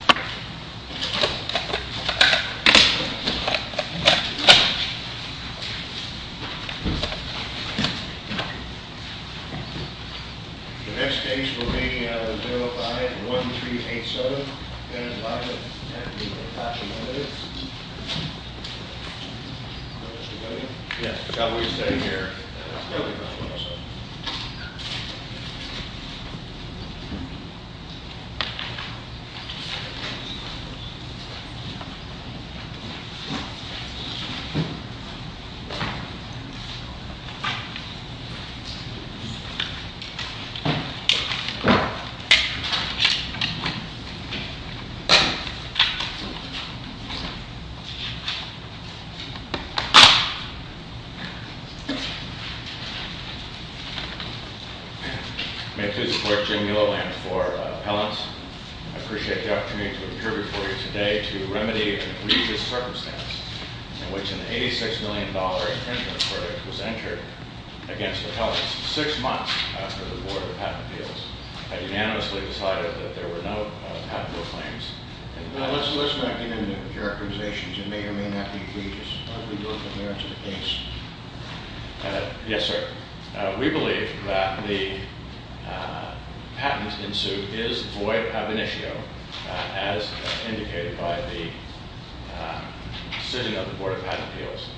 The next case will be L05-1387. Ben is live at Hitachi LTD. Mr. Cody? Yes. I forgot we were standing here. I'm sorry. May I, too, support Jim Miloland for appellants? I appreciate the opportunity to appear before you today to remedy an egregious circumstance in which an $86 million infringement verdict was entered against appellants. Six months after the Board of Patent Appeals, I unanimously decided that there were no patentable claims. Now, let's not get into characterizations. It may or may not be egregious. Why don't we go from there to the case? Yes, sir. We believe that the patent in suit is void of ab initio, as indicated by the sitting of the Board of Patent Appeals.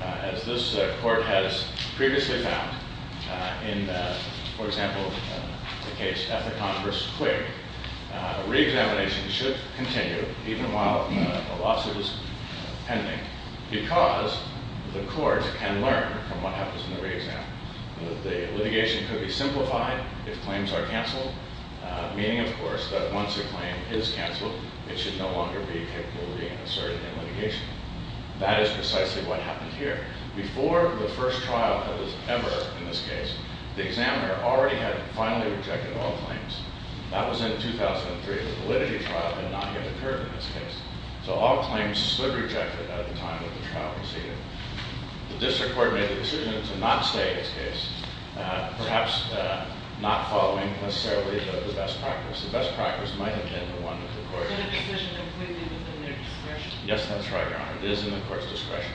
As this court has previously found in, for example, the case Ethicon v. Quig, reexamination should continue even while a lawsuit is pending because the court can learn from what happens in the reexam. The litigation could be simplified if claims are canceled, meaning, of course, that once a claim is canceled, it should no longer be capable of being asserted in litigation. That is precisely what happened here. Before the first trial ever in this case, the examiner already had finally rejected all claims. That was in 2003. The validity trial had not yet occurred in this case. So all claims stood rejected at the time that the trial proceeded. The district court made the decision to not stay in this case, perhaps not following, necessarily, the best practice. The best practice might have been the one with the court. Is that a decision completely within their discretion? Yes, that's right, Your Honor. It is in the court's discretion.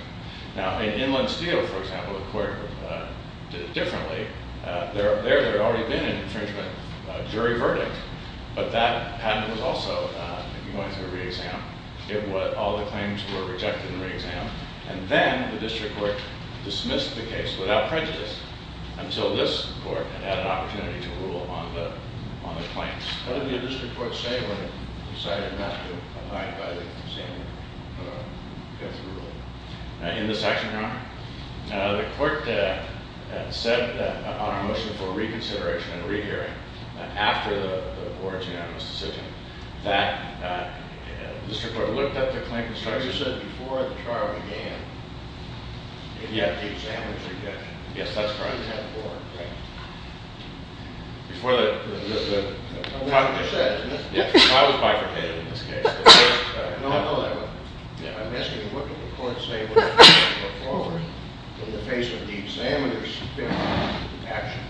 Now, in Inland Steel, for example, the court did it differently. There had already been an infringement jury verdict, but that patent was also going through reexam. All the claims were rejected in reexam. And then the district court dismissed the case without prejudice until this court had had an opportunity to rule on the claims. What did the district court say when it decided not to abide by the same rule? In this section, Your Honor, the court said on our motion for reconsideration and rehearing, after the board's unanimous decision, that the district court looked at the claim construction. But you said before the trial began, it had to be examined again. Yes, that's correct. It had to be reexamined. Before the trial was bifurcated, in this case. No, no, that's correct. I'm asking what did the court say when it looked forward in the face of the examiner's action?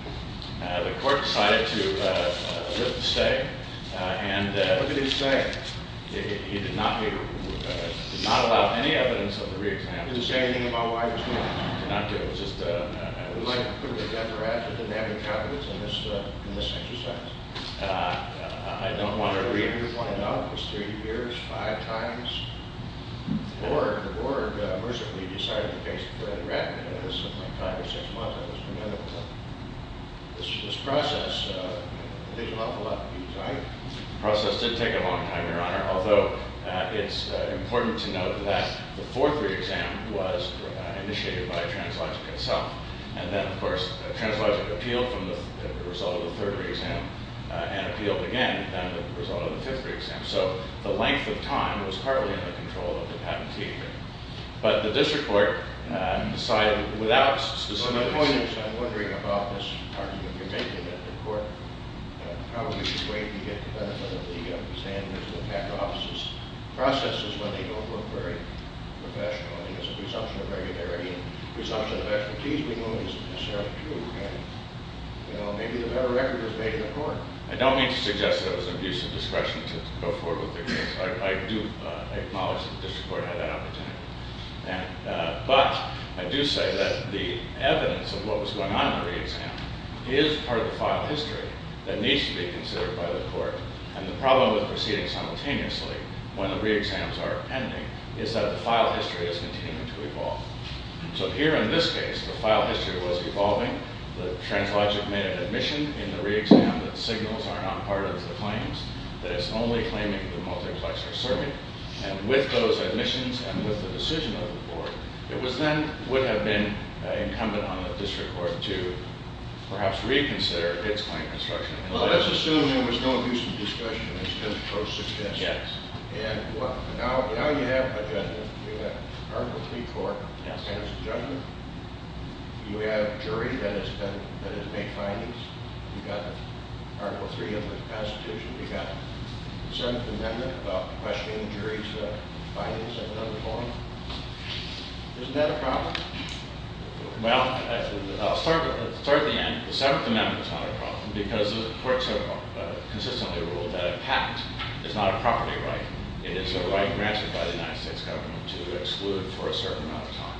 The court decided to stay. And- What did he say? He did not allow any evidence of the reexam. Did he say anything about why he was doing it? He did not do it. It was just- We'd like to put it to the judge for action. He didn't have any confidence in this exercise. I don't want to read it. He was wanted out for three years, five times. The board mercilessly decided to place Brett Rett. It was something like five or six months. It was premeditable. This process took an awful lot of time. The process did take a long time, Your Honor, although it's important to note that the fourth reexam was initiated by Translogic itself. And then, of course, Translogic appealed from the result of the third reexam and appealed again as a result of the fifth reexam. So the length of time was partly in the control of the patentee. But the district court decided without specific- On that point, I'm wondering about this argument you're making, that the court probably should wait and get the benefit of the standards and attack the officers' processes when they don't look very professional. I mean, there's a presumption of regularity, and presumption of expertise we know isn't necessarily true. And, you know, maybe the better record is made in the court. I don't mean to suggest that it was an abuse of discretion to go forward with the case. I do acknowledge that the district court had that opportunity. But I do say that the evidence of what was going on in the reexam is part of the file history that needs to be considered by the court. And the problem with proceeding simultaneously when the reexams are pending is that the file history is continuing to evolve. So here in this case, the file history was evolving. The translogic made an admission in the reexam that signals are not part of the claims, that it's only claiming the multiplexer survey. And with those admissions and with the decision of the board, it then would have been incumbent on the district court to perhaps reconsider its claim construction. Well, let's assume there was no abuse of discretion. It's just pro-success. Yes. And now you have a judgment. You have an article of plea court. Yes. And it's a judgment. You have a jury that has made findings. You've got Article III of the Constitution. You've got the 7th Amendment about questioning the jury's findings in another forum. Isn't that a problem? Well, I'll start at the end. The 7th Amendment is not a problem because the courts have consistently ruled that a pact is not a property right. It is a right granted by the United States government to exclude for a certain amount of time.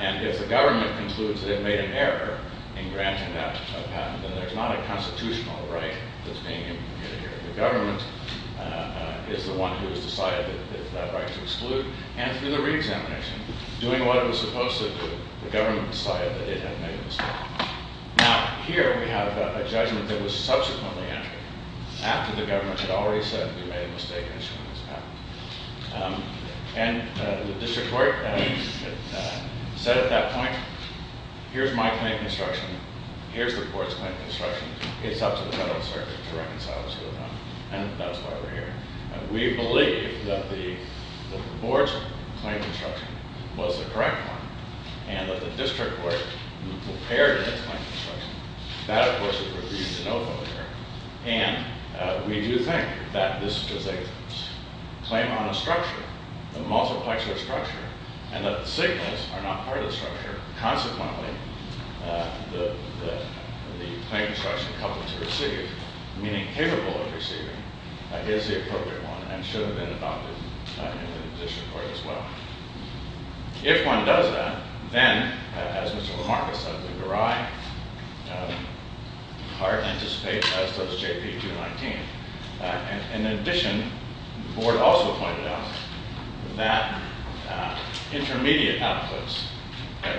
And if the government concludes that it made an error in granting that patent, then there's not a constitutional right that's being implemented here. The government is the one who has decided that it has that right to exclude. And through the reexamination, doing what it was supposed to do, the government decided that it had made a mistake. Now, here we have a judgment that was subsequently entered after the government had already said we made a mistake in issuing this patent. And the district court said at that point, here's my claim of construction. Here's the court's claim of construction. It's up to the Federal Circuit to reconcile what's going on. And that's why we're here. We believe that the board's claim of construction was the correct one and that the district court prepared its claim of construction. That, of course, is reviewed in OVO here. And we do think that this was a claim on a structure, a multiplexed structure, and that the signals are not part of the structure. Consequently, the claim of construction coupled to receive, meaning capable of receiving, is the appropriate one and should have been adopted in the district court as well. If one does that, then, as Mr. Lamarcus said, the Garai part anticipates as does JP219. In addition, the board also pointed out that intermediate outputs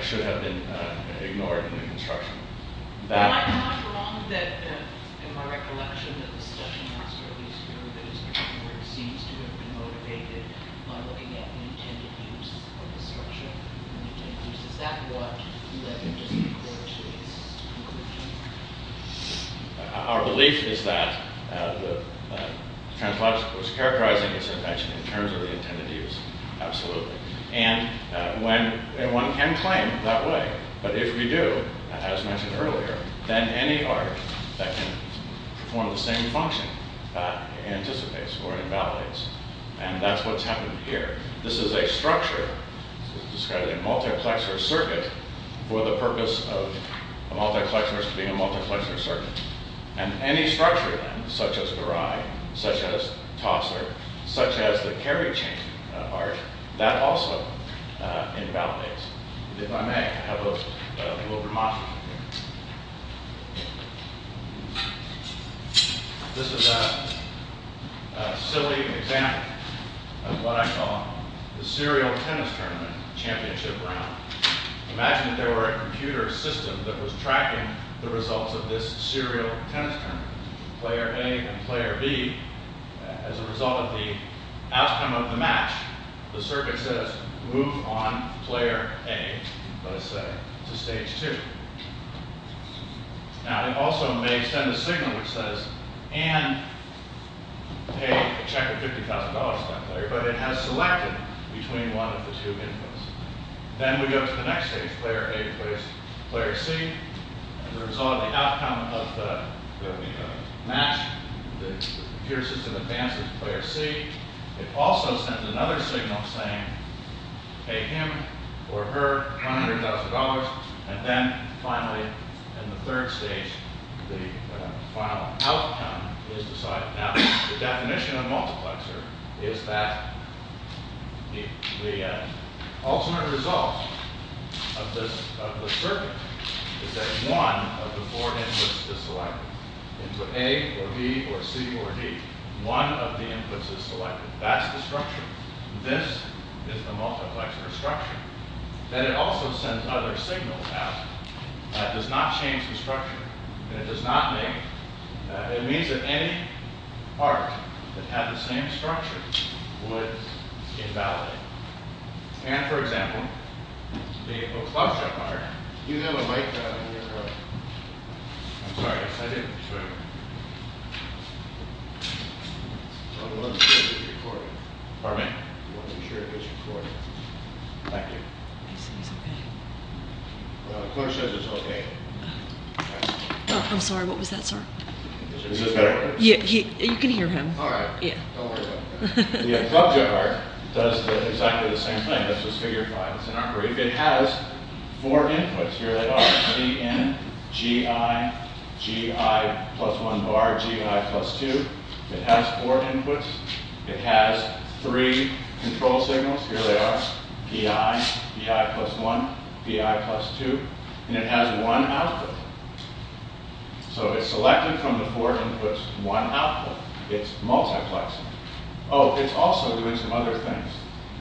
should have been ignored in the construction. I'm not wrong that, in my recollection, that the discussion has to at least go to those where it seems to have been motivated by looking at the intended use of the structure. Is that what you let the district court to its conclusion? Our belief is that the trans-labs was characterizing its invention in terms of the intended use, absolutely. And one can claim that way. But if we do, as mentioned earlier, then any art that can perform the same function anticipates or invalidates. And that's what's happened here. This is a structure, described as a multiplexer circuit, for the purpose of the multiplexers being a multiplexer circuit. And any structure then, such as Garai, such as Tossler, such as the carry chain art, that also invalidates. And if I may, I have a little remark here. This is a silly example of what I call the serial tennis tournament championship round. Imagine that there were a computer system that was tracking the results of this serial tennis tournament, player A and player B. As a result of the outcome of the match, the circuit says, move on player A, let's say, to stage 2. Now, it also may send a signal which says, and pay a check of $50,000 to that player, but it has selected between one of the two inputs. Then we go to the next stage, player A versus player C. As a result of the outcome of the match, the computer system advances to player C. It also sends another signal saying, pay him or her $100,000. And then, finally, in the third stage, the final outcome is decided. Now, the definition of multiplexer is that the ultimate result of the circuit is that one of the four inputs is selected. A or B or C or D. One of the inputs is selected. That's the structure. This is the multiplexer structure. Then it also sends other signals out. That does not change the structure. And it does not make, it means that any arc that had the same structure would invalidate. And, for example, the club shot arc, Do you have a mic around here? I'm sorry, I didn't. Pardon me. You want to make sure it gets recorded. Thank you. He says it's okay. The coach says it's okay. I'm sorry, what was that, sir? Is this better? You can hear him. All right. Don't worry about it. The club shot arc does exactly the same thing. That's just figure five. It has four inputs. Here they are. P, N, G, I. G, I, plus one bar. G, I, plus two. It has four inputs. It has three control signals. Here they are. P, I. P, I, plus one. P, I, plus two. And it has one output. So it's selected from the four inputs, one output. It's multiplexing. Oh, it's also doing some other things.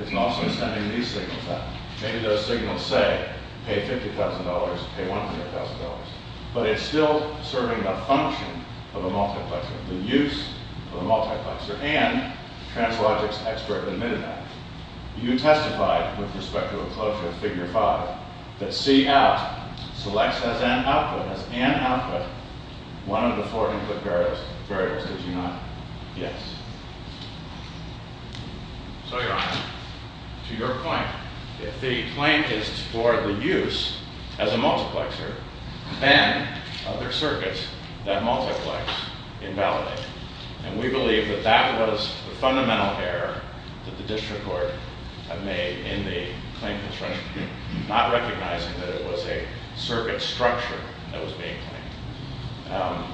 It's also sending these signals out. Maybe those signals say, pay $50,000, pay $100,000. But it's still serving a function of a multiplexer, the use of a multiplexer. And the translogics expert admitted that. You testified with respect to a closure of figure five that C out selects as N output, as N output, one of the four input barriers. Did you not? Yes. So, Your Honor, to your point, if the claim is for the use as a multiplexer, then other circuits that multiplex invalidate. And we believe that that was the fundamental error that the district court made in the claim construction, not recognizing that it was a circuit structure that was being claimed.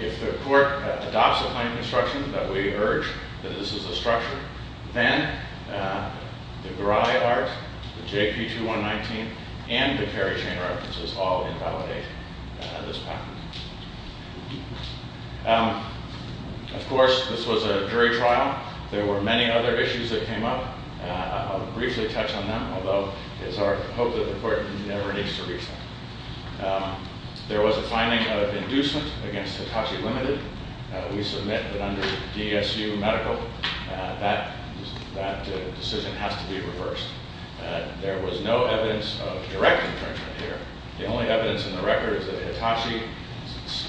If the court adopts a claim construction that we urge that this is a structure, then the GRI art, the JP2119, and the carry chain references all invalidate this patent. Of course, this was a jury trial. There were many other issues that came up. I'll briefly touch on them, although it's our hope that the court never needs to reach them. There was a finding of inducement against Hitachi Limited. We submit that under DSU Medical, that decision has to be reversed. There was no evidence of direct infringement here. The only evidence in the record is that Hitachi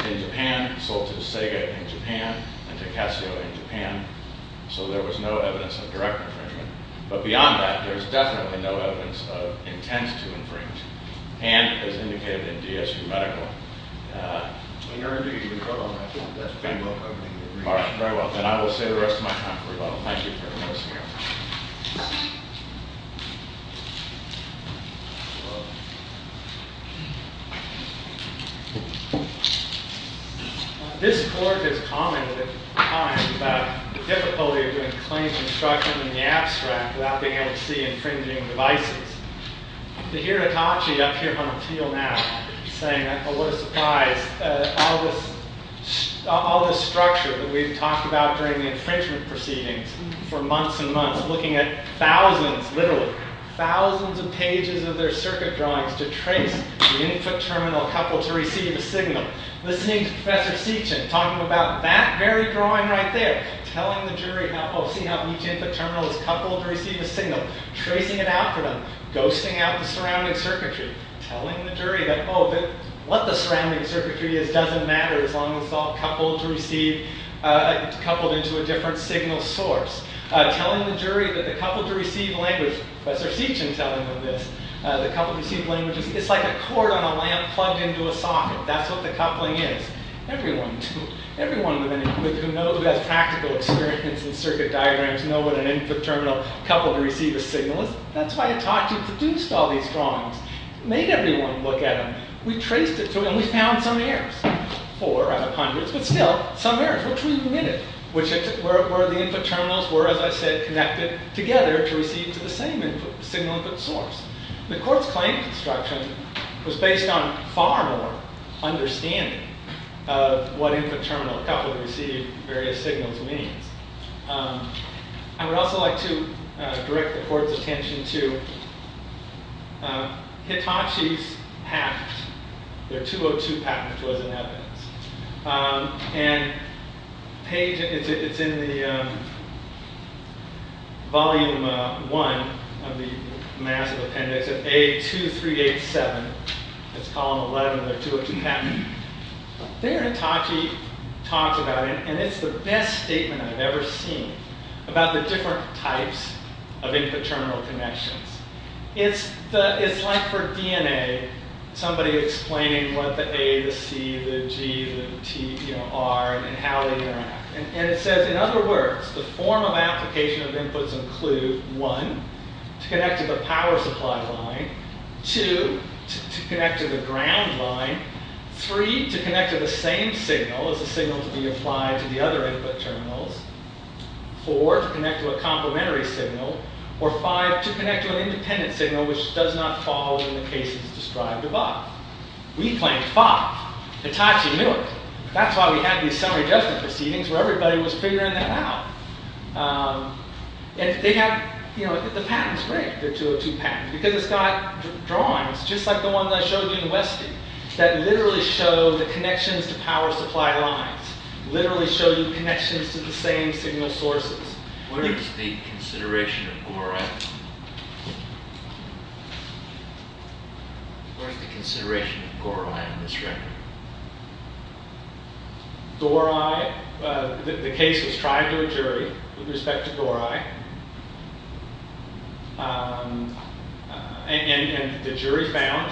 in Japan sold to Sega in Japan and to Casio in Japan. So there was no evidence of direct infringement. But beyond that, there's definitely no evidence of intent to infringe. And, as indicated in DSU Medical, we urge you to vote on that one. That's pretty well covered in the report. All right. Very well. Then I will say the rest of my time. Thank you very much. This court has commented at times about the difficulty of doing claims construction in the abstract without being able to see infringing devices. To hear Hitachi up here on the field now saying, well, what a surprise, all this structure that we've talked about during the infringement proceedings for months and months, looking at thousands, literally, thousands of pages of their circuit drawings to trace the input terminal couple to receive a signal. Listening to Professor Seachen talking about that very drawing right there, telling the jury, oh, see how each input terminal is coupled to receive a signal. Tracing it out for them. Ghosting out the surrounding circuitry. Telling the jury that, oh, what the surrounding circuitry is doesn't matter as long as it's all coupled to receive, coupled into a different signal source. Telling the jury that the coupled-to-receive language, Professor Seachen telling them this, the coupled-to-receive language, it's like a cord on a lamp plugged into a socket. That's what the coupling is. Everyone who knows, who has practical experience in circuit diagrams, knows what an input terminal coupled-to-receive a signal is. That's why Itachi produced all these drawings. Made everyone look at them. We traced it, and we found some errors. Four out of hundreds, but still, some errors, which we omitted, where the input terminals were, as I said, connected together to receive to the same input, signal input source. The court's claim construction was based on far more understanding of what input terminal coupled-to-receive various signals means. I would also like to direct the court's attention to Hitachi's patent. Their 202 patent was in evidence. It's in the volume one of the massive appendix of A2387. It's column 11 of their 202 patent. There, Itachi talks about it, and it's the best statement I've ever seen about the different types of input terminal connections. It's like for DNA, somebody explaining what the A, the C, the G, the T are, and how they interact. It says, in other words, the formal application of inputs include one, to connect to the power supply line, two, to connect to the ground line, three, to connect to the same signal as the signal to be applied to the other input terminals, four, to connect to a complementary signal, or five, to connect to an independent signal which does not fall in the cases described above. We claim five. Hitachi knew it. That's why we had these summary judgment proceedings where everybody was figuring that out. The patent's great, the 202 patent, because it's got drawings just like the one that I showed you in Westy that literally show the connections to power supply lines, literally show you connections to the same signal sources. What is the consideration of GORI? What is the consideration of GORI in this record? GORI, the case was tried to a jury with respect to GORI, and the jury found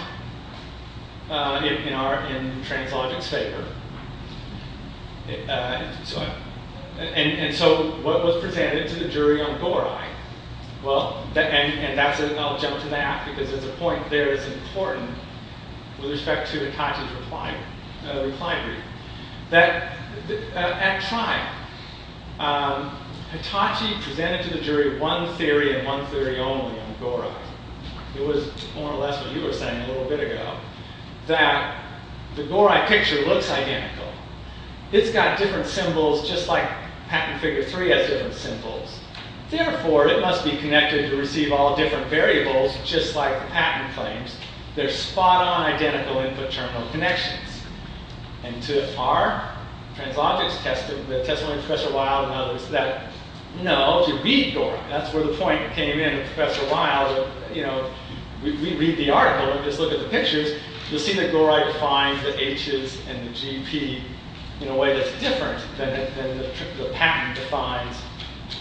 in Translogic's favor. And so what was presented to the jury on GORI? Well, and I'll jump to that because there's a point there that's important with respect to Hitachi's reply. At trial, Hitachi presented to the jury one theory and one theory only on GORI. It was more or less what you were saying a little bit ago. That the GORI picture looks identical. It's got different symbols just like patent figure three has different symbols. Therefore, it must be connected to receive all different variables just like the patent claims. There's spot-on identical input terminal connections. And to our Translogic's testimony, Professor Wilde and others, that no, if you read GORI, that's where the point came in. Professor Wilde, you know, we read the article and just look at the pictures, you'll see that GORI defines the H's and the GP in a way that's different than the patent defines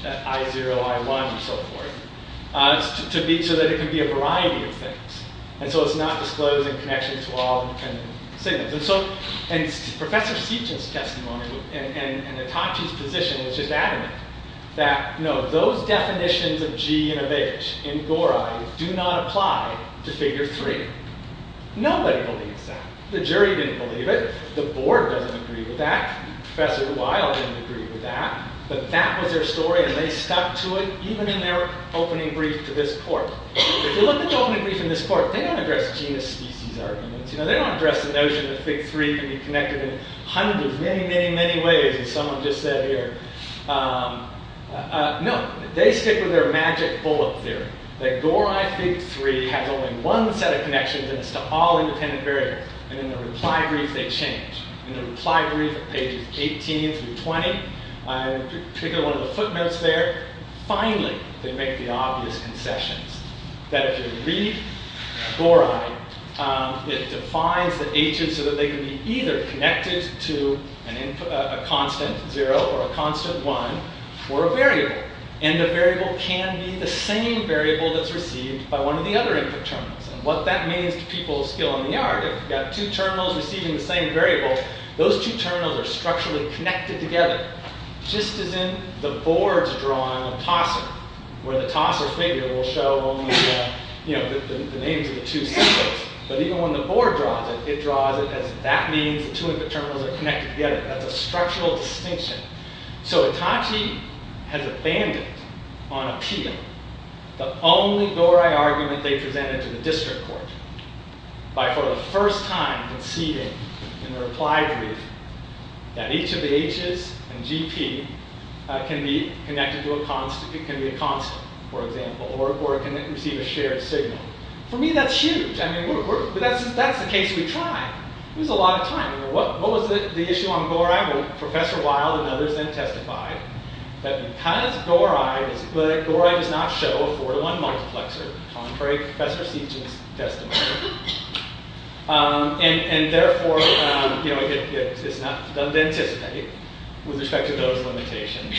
I0, I1, and so forth. So that it can be a variety of things. And so it's not disclosed in connection to all the different signals. And so, and Professor Seaton's testimony and Hitachi's position was just adamant that no, those definitions of G and of H in GORI do not apply to figure three. Nobody believes that. The jury didn't believe it. The board doesn't agree with that. Professor Wilde didn't agree with that. But that was their story and they stuck to it even in their opening brief to this court. If you look at the opening brief in this court, they don't address genus-species arguments. They don't address the notion that figure three can be connected in hundreds, many, many, many ways as someone just said here. No, they stick with their magic bullet theory. That GORI figure three has only one set of connections and it's to all independent variables. And in the reply brief they change. In the reply brief at pages 18 through 20, I'm picking one of the footnotes there, finally they make the obvious concessions. That if you read GORI, it defines the H's so that they can be either connected to a constant zero or a constant one for a variable. And the variable can be the same variable that's received by one of the other input terminals. And what that means to people still in the yard, if you've got two terminals receiving the same variable, those two terminals are structurally connected together. Just as in the board's drawing of Tosser, where the Tosser figure will show only the names of the two symbols. But even when the board draws it, it draws it as that means the two input terminals are connected together. That's a structural distinction. So Hitachi has abandoned, on appeal, the only GORI argument they presented to the district court by for the first time conceding in the reply brief that each of the H's and GP can be connected to a constant. It can be a constant, for example, or it can receive a shared signal. For me, that's huge. I mean, that's the case we tried. It was a lot of time. What was the issue on GORI? Professor Wilde and others then testified that because GORI does not show a 4 to 1 multiplexer, contrary to Professor Seaton's testimony. And therefore, it doesn't anticipate with respect to those limitations.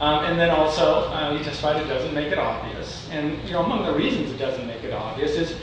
And then also, he testified it doesn't make it obvious. And among the reasons it doesn't make it obvious is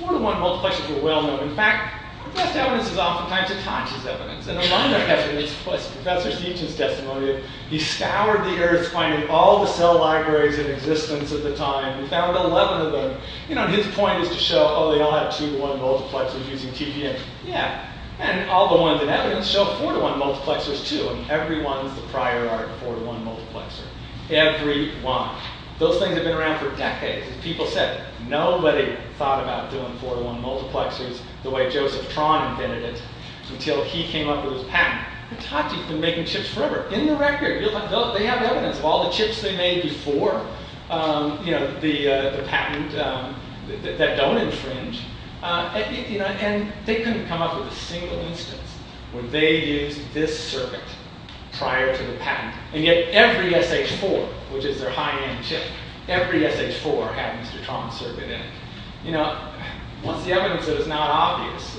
4 to 1 multiplexers were well-known. In fact, the best evidence is oftentimes Hitachi's evidence. And among their evidence was Professor Seaton's testimony. He scoured the earth finding all the cell libraries in existence at the time. He found 11 of them. And his point is to show, oh, they all have 2 to 1 multiplexers using TPN. Yeah. And all the ones in evidence show 4 to 1 multiplexers too. And every one is the prior art 4 to 1 multiplexer. Every one. Those things have been around for decades. People said, nobody thought about doing 4 to 1 multiplexers the way Joseph Tron invented it until he came up with his patent. Hitachi's been making chips forever. In the record, they have evidence of all the chips they made before the patent that don't infringe. And they couldn't come up with a single instance where they used this circuit prior to the patent. And yet, every SH4, which is their high-end chip, every SH4 had Mr. Tron's circuit in it. What's the evidence that is not obvious?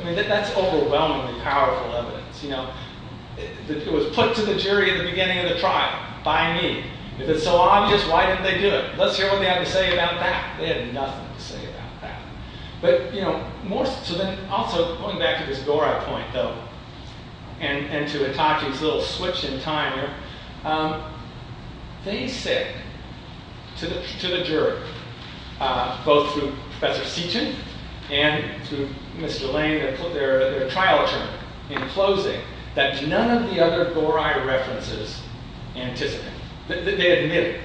I mean, that's overwhelmingly powerful evidence. It was put to the jury at the beginning of the trial by me. If it's so obvious, why didn't they do it? Let's hear what they had to say about that. They had nothing to say about that. Also, going back to this Dorai point, though, and to Hitachi's little switch in time here, they said to the jury, both through Professor Seaton and through Mr. Lane, their trial attorney, in closing, that none of the other Dorai references anticipated. They admitted it.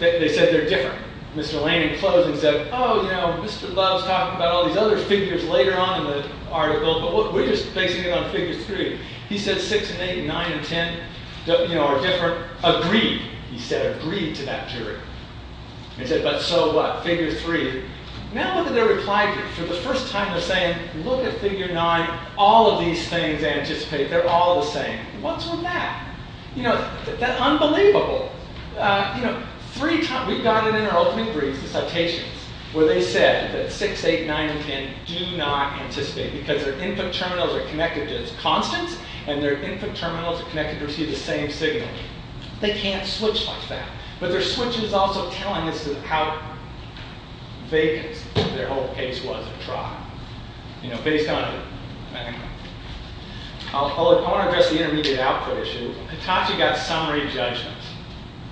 They said they're different. Mr. Lane, in closing, said, oh, you know, Mr. Love's talking about all these other figures later on in the article. But we're just basing it on figure 3. He said 6 and 8 and 9 and 10 are different. Agreed, he said, agreed to that jury. They said, but so what? Figure 3. Now look at their reply to it. For the first time, they're saying, look at figure 9. All of these things they anticipate, they're all the same. What's with that? That's unbelievable. We've got it in our opening briefs, the citations, where they said that 6, 8, 9, and 10 do not anticipate, because their input terminals are connected to its constants, and their input terminals are connected to receive the same signal. They can't switch like that. But their switch is also telling us how vague their whole case was at trial. You know, based on it. I want to address the intermediate output issue. Hitachi got summary judgments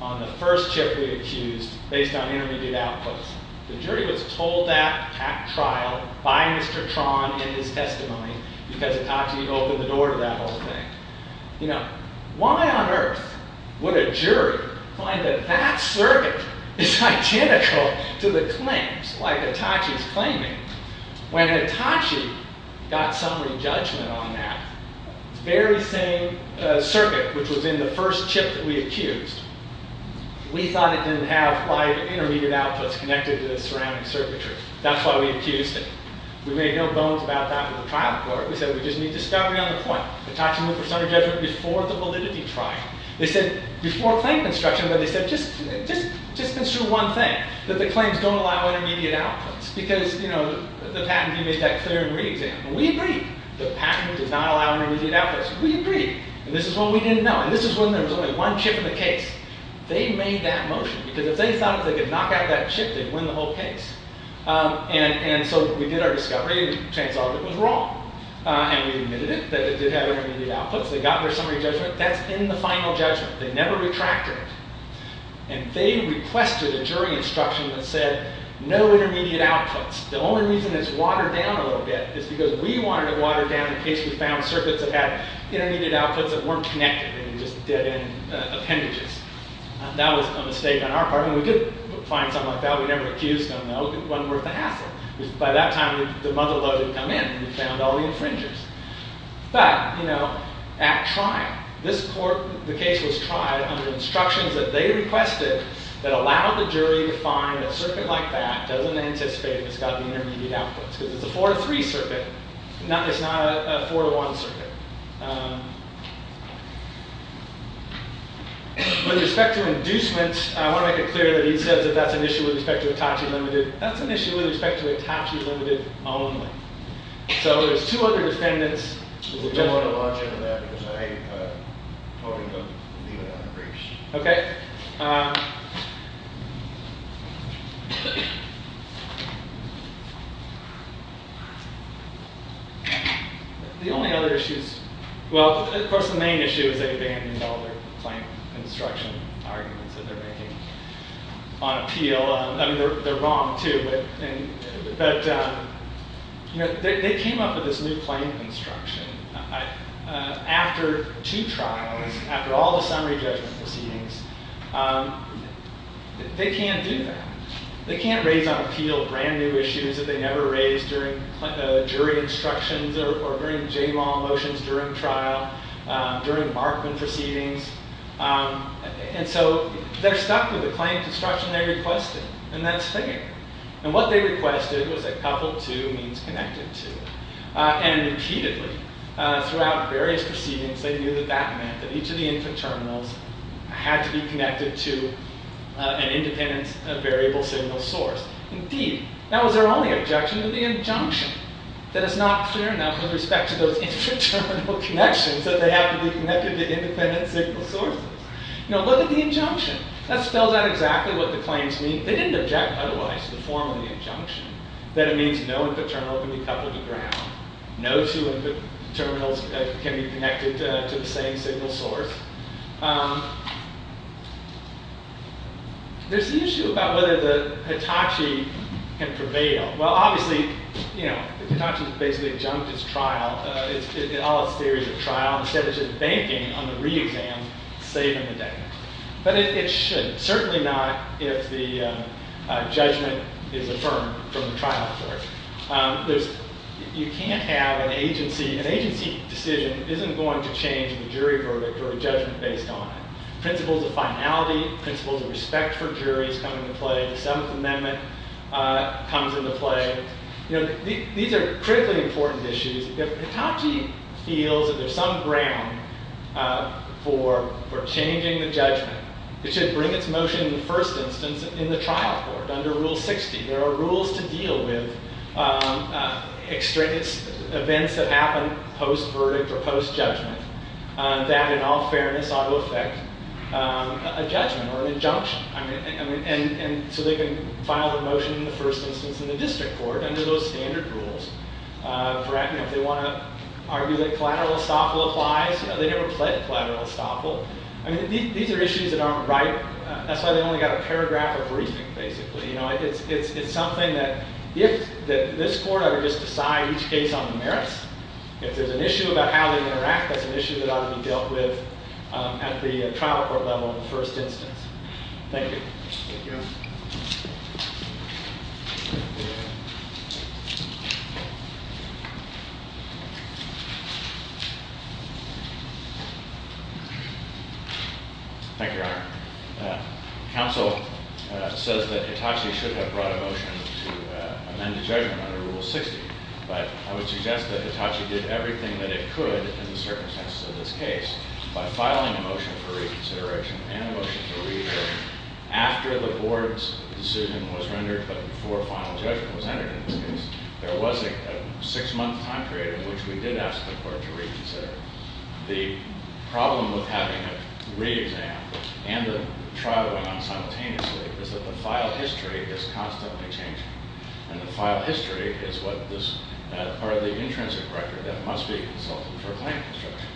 on the first chip he accused based on intermediate outputs. The jury was told that at trial by Mr. Tron in his testimony, because Hitachi had opened the door to that whole thing. You know, why on earth would a jury find that that circuit is identical to the claims, like Hitachi's claiming, when Hitachi got summary judgment on that very same circuit, which was in the first chip that we accused. We thought it didn't have five intermediate outputs connected to the surrounding circuitry. That's why we accused it. We made no bones about that with the trial court. We said, we just need discovery on the point. Hitachi moved for summary judgment before the validity trial. They said, before claim construction, but they said, just construe one thing, that the claims don't allow intermediate outputs. Because, you know, the patent team made that clear in re-exam. And we agreed. The patent does not allow intermediate outputs. We agreed. And this is what we didn't know. And this is when there was only one chip in the case. They made that motion. Because if they thought they could knock out that chip, they'd win the whole case. And so we did our discovery. We trans-argued it was wrong. And we admitted it, that it did have intermediate outputs. They got their summary judgment. That's in the final judgment. They never retracted it. And they requested a jury instruction that said, no intermediate outputs. The only reason it's watered down a little bit is because we wanted it watered down in case we found circuits that had intermediate outputs that weren't connected and just did appendages. That was a mistake on our part. I mean, we could find something like that. We never accused them, though. It wasn't worth the hassle. Because by that time, the mother load had come in. And we found all the infringers. But, you know, at trial, this court, the case was tried under instructions that they requested that allowed the jury to find a circuit like that. Doesn't anticipate it's got the intermediate outputs. Because it's a four to three circuit. It's not a four to one circuit. With respect to inducements, I want to make it clear that he says that that's an issue with respect to Hitachi Limited. That's an issue with respect to Hitachi Limited only. So there's two other defendants. We don't want to launch into that. Because I'd probably leave it on the briefs. OK. The only other issues. Well, of course, the main issue is that they abandoned all their claim construction arguments that they're making on appeal. I mean, they're wrong, too. But they came up with this new claim construction. After two trials, after all the summary judgment proceedings, they can't do that. They can't raise on appeal brand new issues that they never raised during jury instructions or during J-law motions during trial, during Markman proceedings. And so they're stuck with the claim construction they requested. And that's fair. And what they requested was a couple of two means connected to it. And repeatedly, throughout various proceedings, they knew that that meant that each of the infant terminals had to be connected to an independent variable signal source. Indeed, that was their only objection to the injunction. That it's not clear enough with respect to those infant terminal connections that they have to be connected to independent signal sources. Now, look at the injunction. That spells out exactly what the claims mean. They didn't object otherwise to the formal injunction, that it means no infant terminal can be coupled to ground. No two infant terminals can be connected to the same signal source. There's the issue about whether the Hitachi can prevail. Well, obviously, the Hitachi has basically adjunct its trial, all its theories of trial. Instead, it's just banking on the re-exam, saving the day. But it should, certainly not if the judgment is affirmed from the trial court. You can't have an agency. An agency decision isn't going to change the jury verdict or a judgment based on it. Principles of finality, principles of respect for juries come into play. The Seventh Amendment comes into play. These are critically important issues. If Hitachi feels that there's some ground for changing the judgment, it should bring its motion in the first instance in the trial court under Rule 60. There are rules to deal with events that happen post-verdict or post-judgment that, in all fairness, ought to affect a judgment or an injunction. And so they can file their motion in the first instance in the district court under those standard rules. If they want to argue that collateral estoppel applies, they never played collateral estoppel. These are issues that aren't right. That's why they only got a paragraph of briefing, basically. It's something that, if this court ever just decided each case on the merits, if there's an issue about how they interact, that's an issue that ought to be dealt with at the trial court level in the first instance. Thank you. Thank you. Thank you, Your Honor. Counsel says that Hitachi should have brought a motion to amend the judgment under Rule 60. But I would suggest that Hitachi did everything that it could in the circumstances of this case by filing a motion for reconsideration and a motion to re-examine. After the board's decision was rendered, but before final judgment was entered in this case, there was a six-month time period in which we did ask the court to reconsider. The problem with having a re-exam, and the trial went on simultaneously, is that the file history is constantly changing. And the file history is what this, or the intrinsic record that must be consulted for claim construction.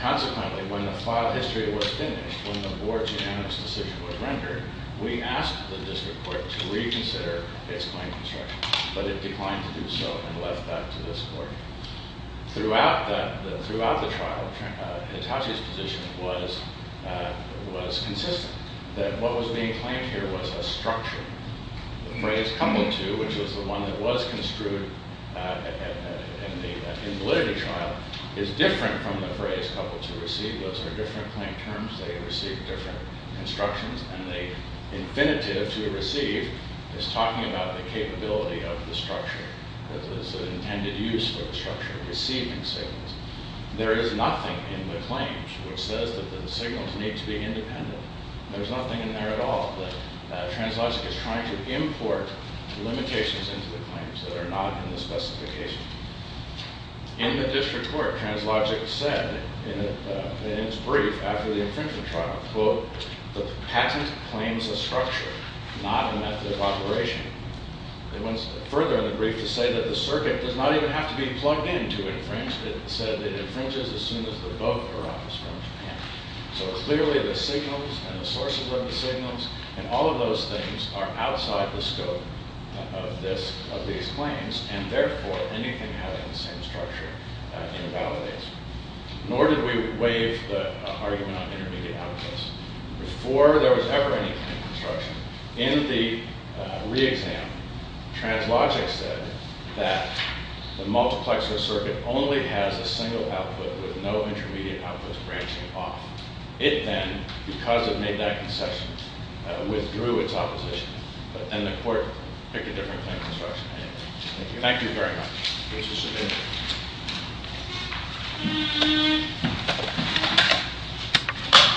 Consequently, when the file history was finished, when the board's unanimous decision was rendered, we asked the district court to reconsider its claim construction. But it declined to do so and left that to this court. Throughout the trial, Hitachi's position was consistent, that what was being claimed here was a structure. The phrase, cumulative, which was the one that was construed in the validity trial, is different from the phrase, couple to receive. Those are different claim terms. They receive different constructions. And the infinitive to receive is talking about the capability of the structure. There's an intended use for the structure, receiving signals. There is nothing in the claims which says that the signals need to be independent. There's nothing in there at all. Translogic is trying to import limitations into the claims that are not in the specification. In the district court, Translogic said, in its brief after the infringement trial, quote, the patent claims a structure, not a method of operation. It went further in the brief to say that the circuit does not even have to be plugged in to infringe. It said it infringes as soon as the vote arrives from Japan. So clearly, the signals and the sources of the signals and all of those things are outside the scope of these claims. And therefore, anything having the same structure invalidates. Nor did we waive the argument on intermediate outputs. Before there was ever anything in construction, in the re-exam, Translogic said that the multiplexer circuit only has a single output with no intermediate outputs branching off. It then, because it made that concession, withdrew its opposition. But then the court picked a different claim construction. Thank you very much.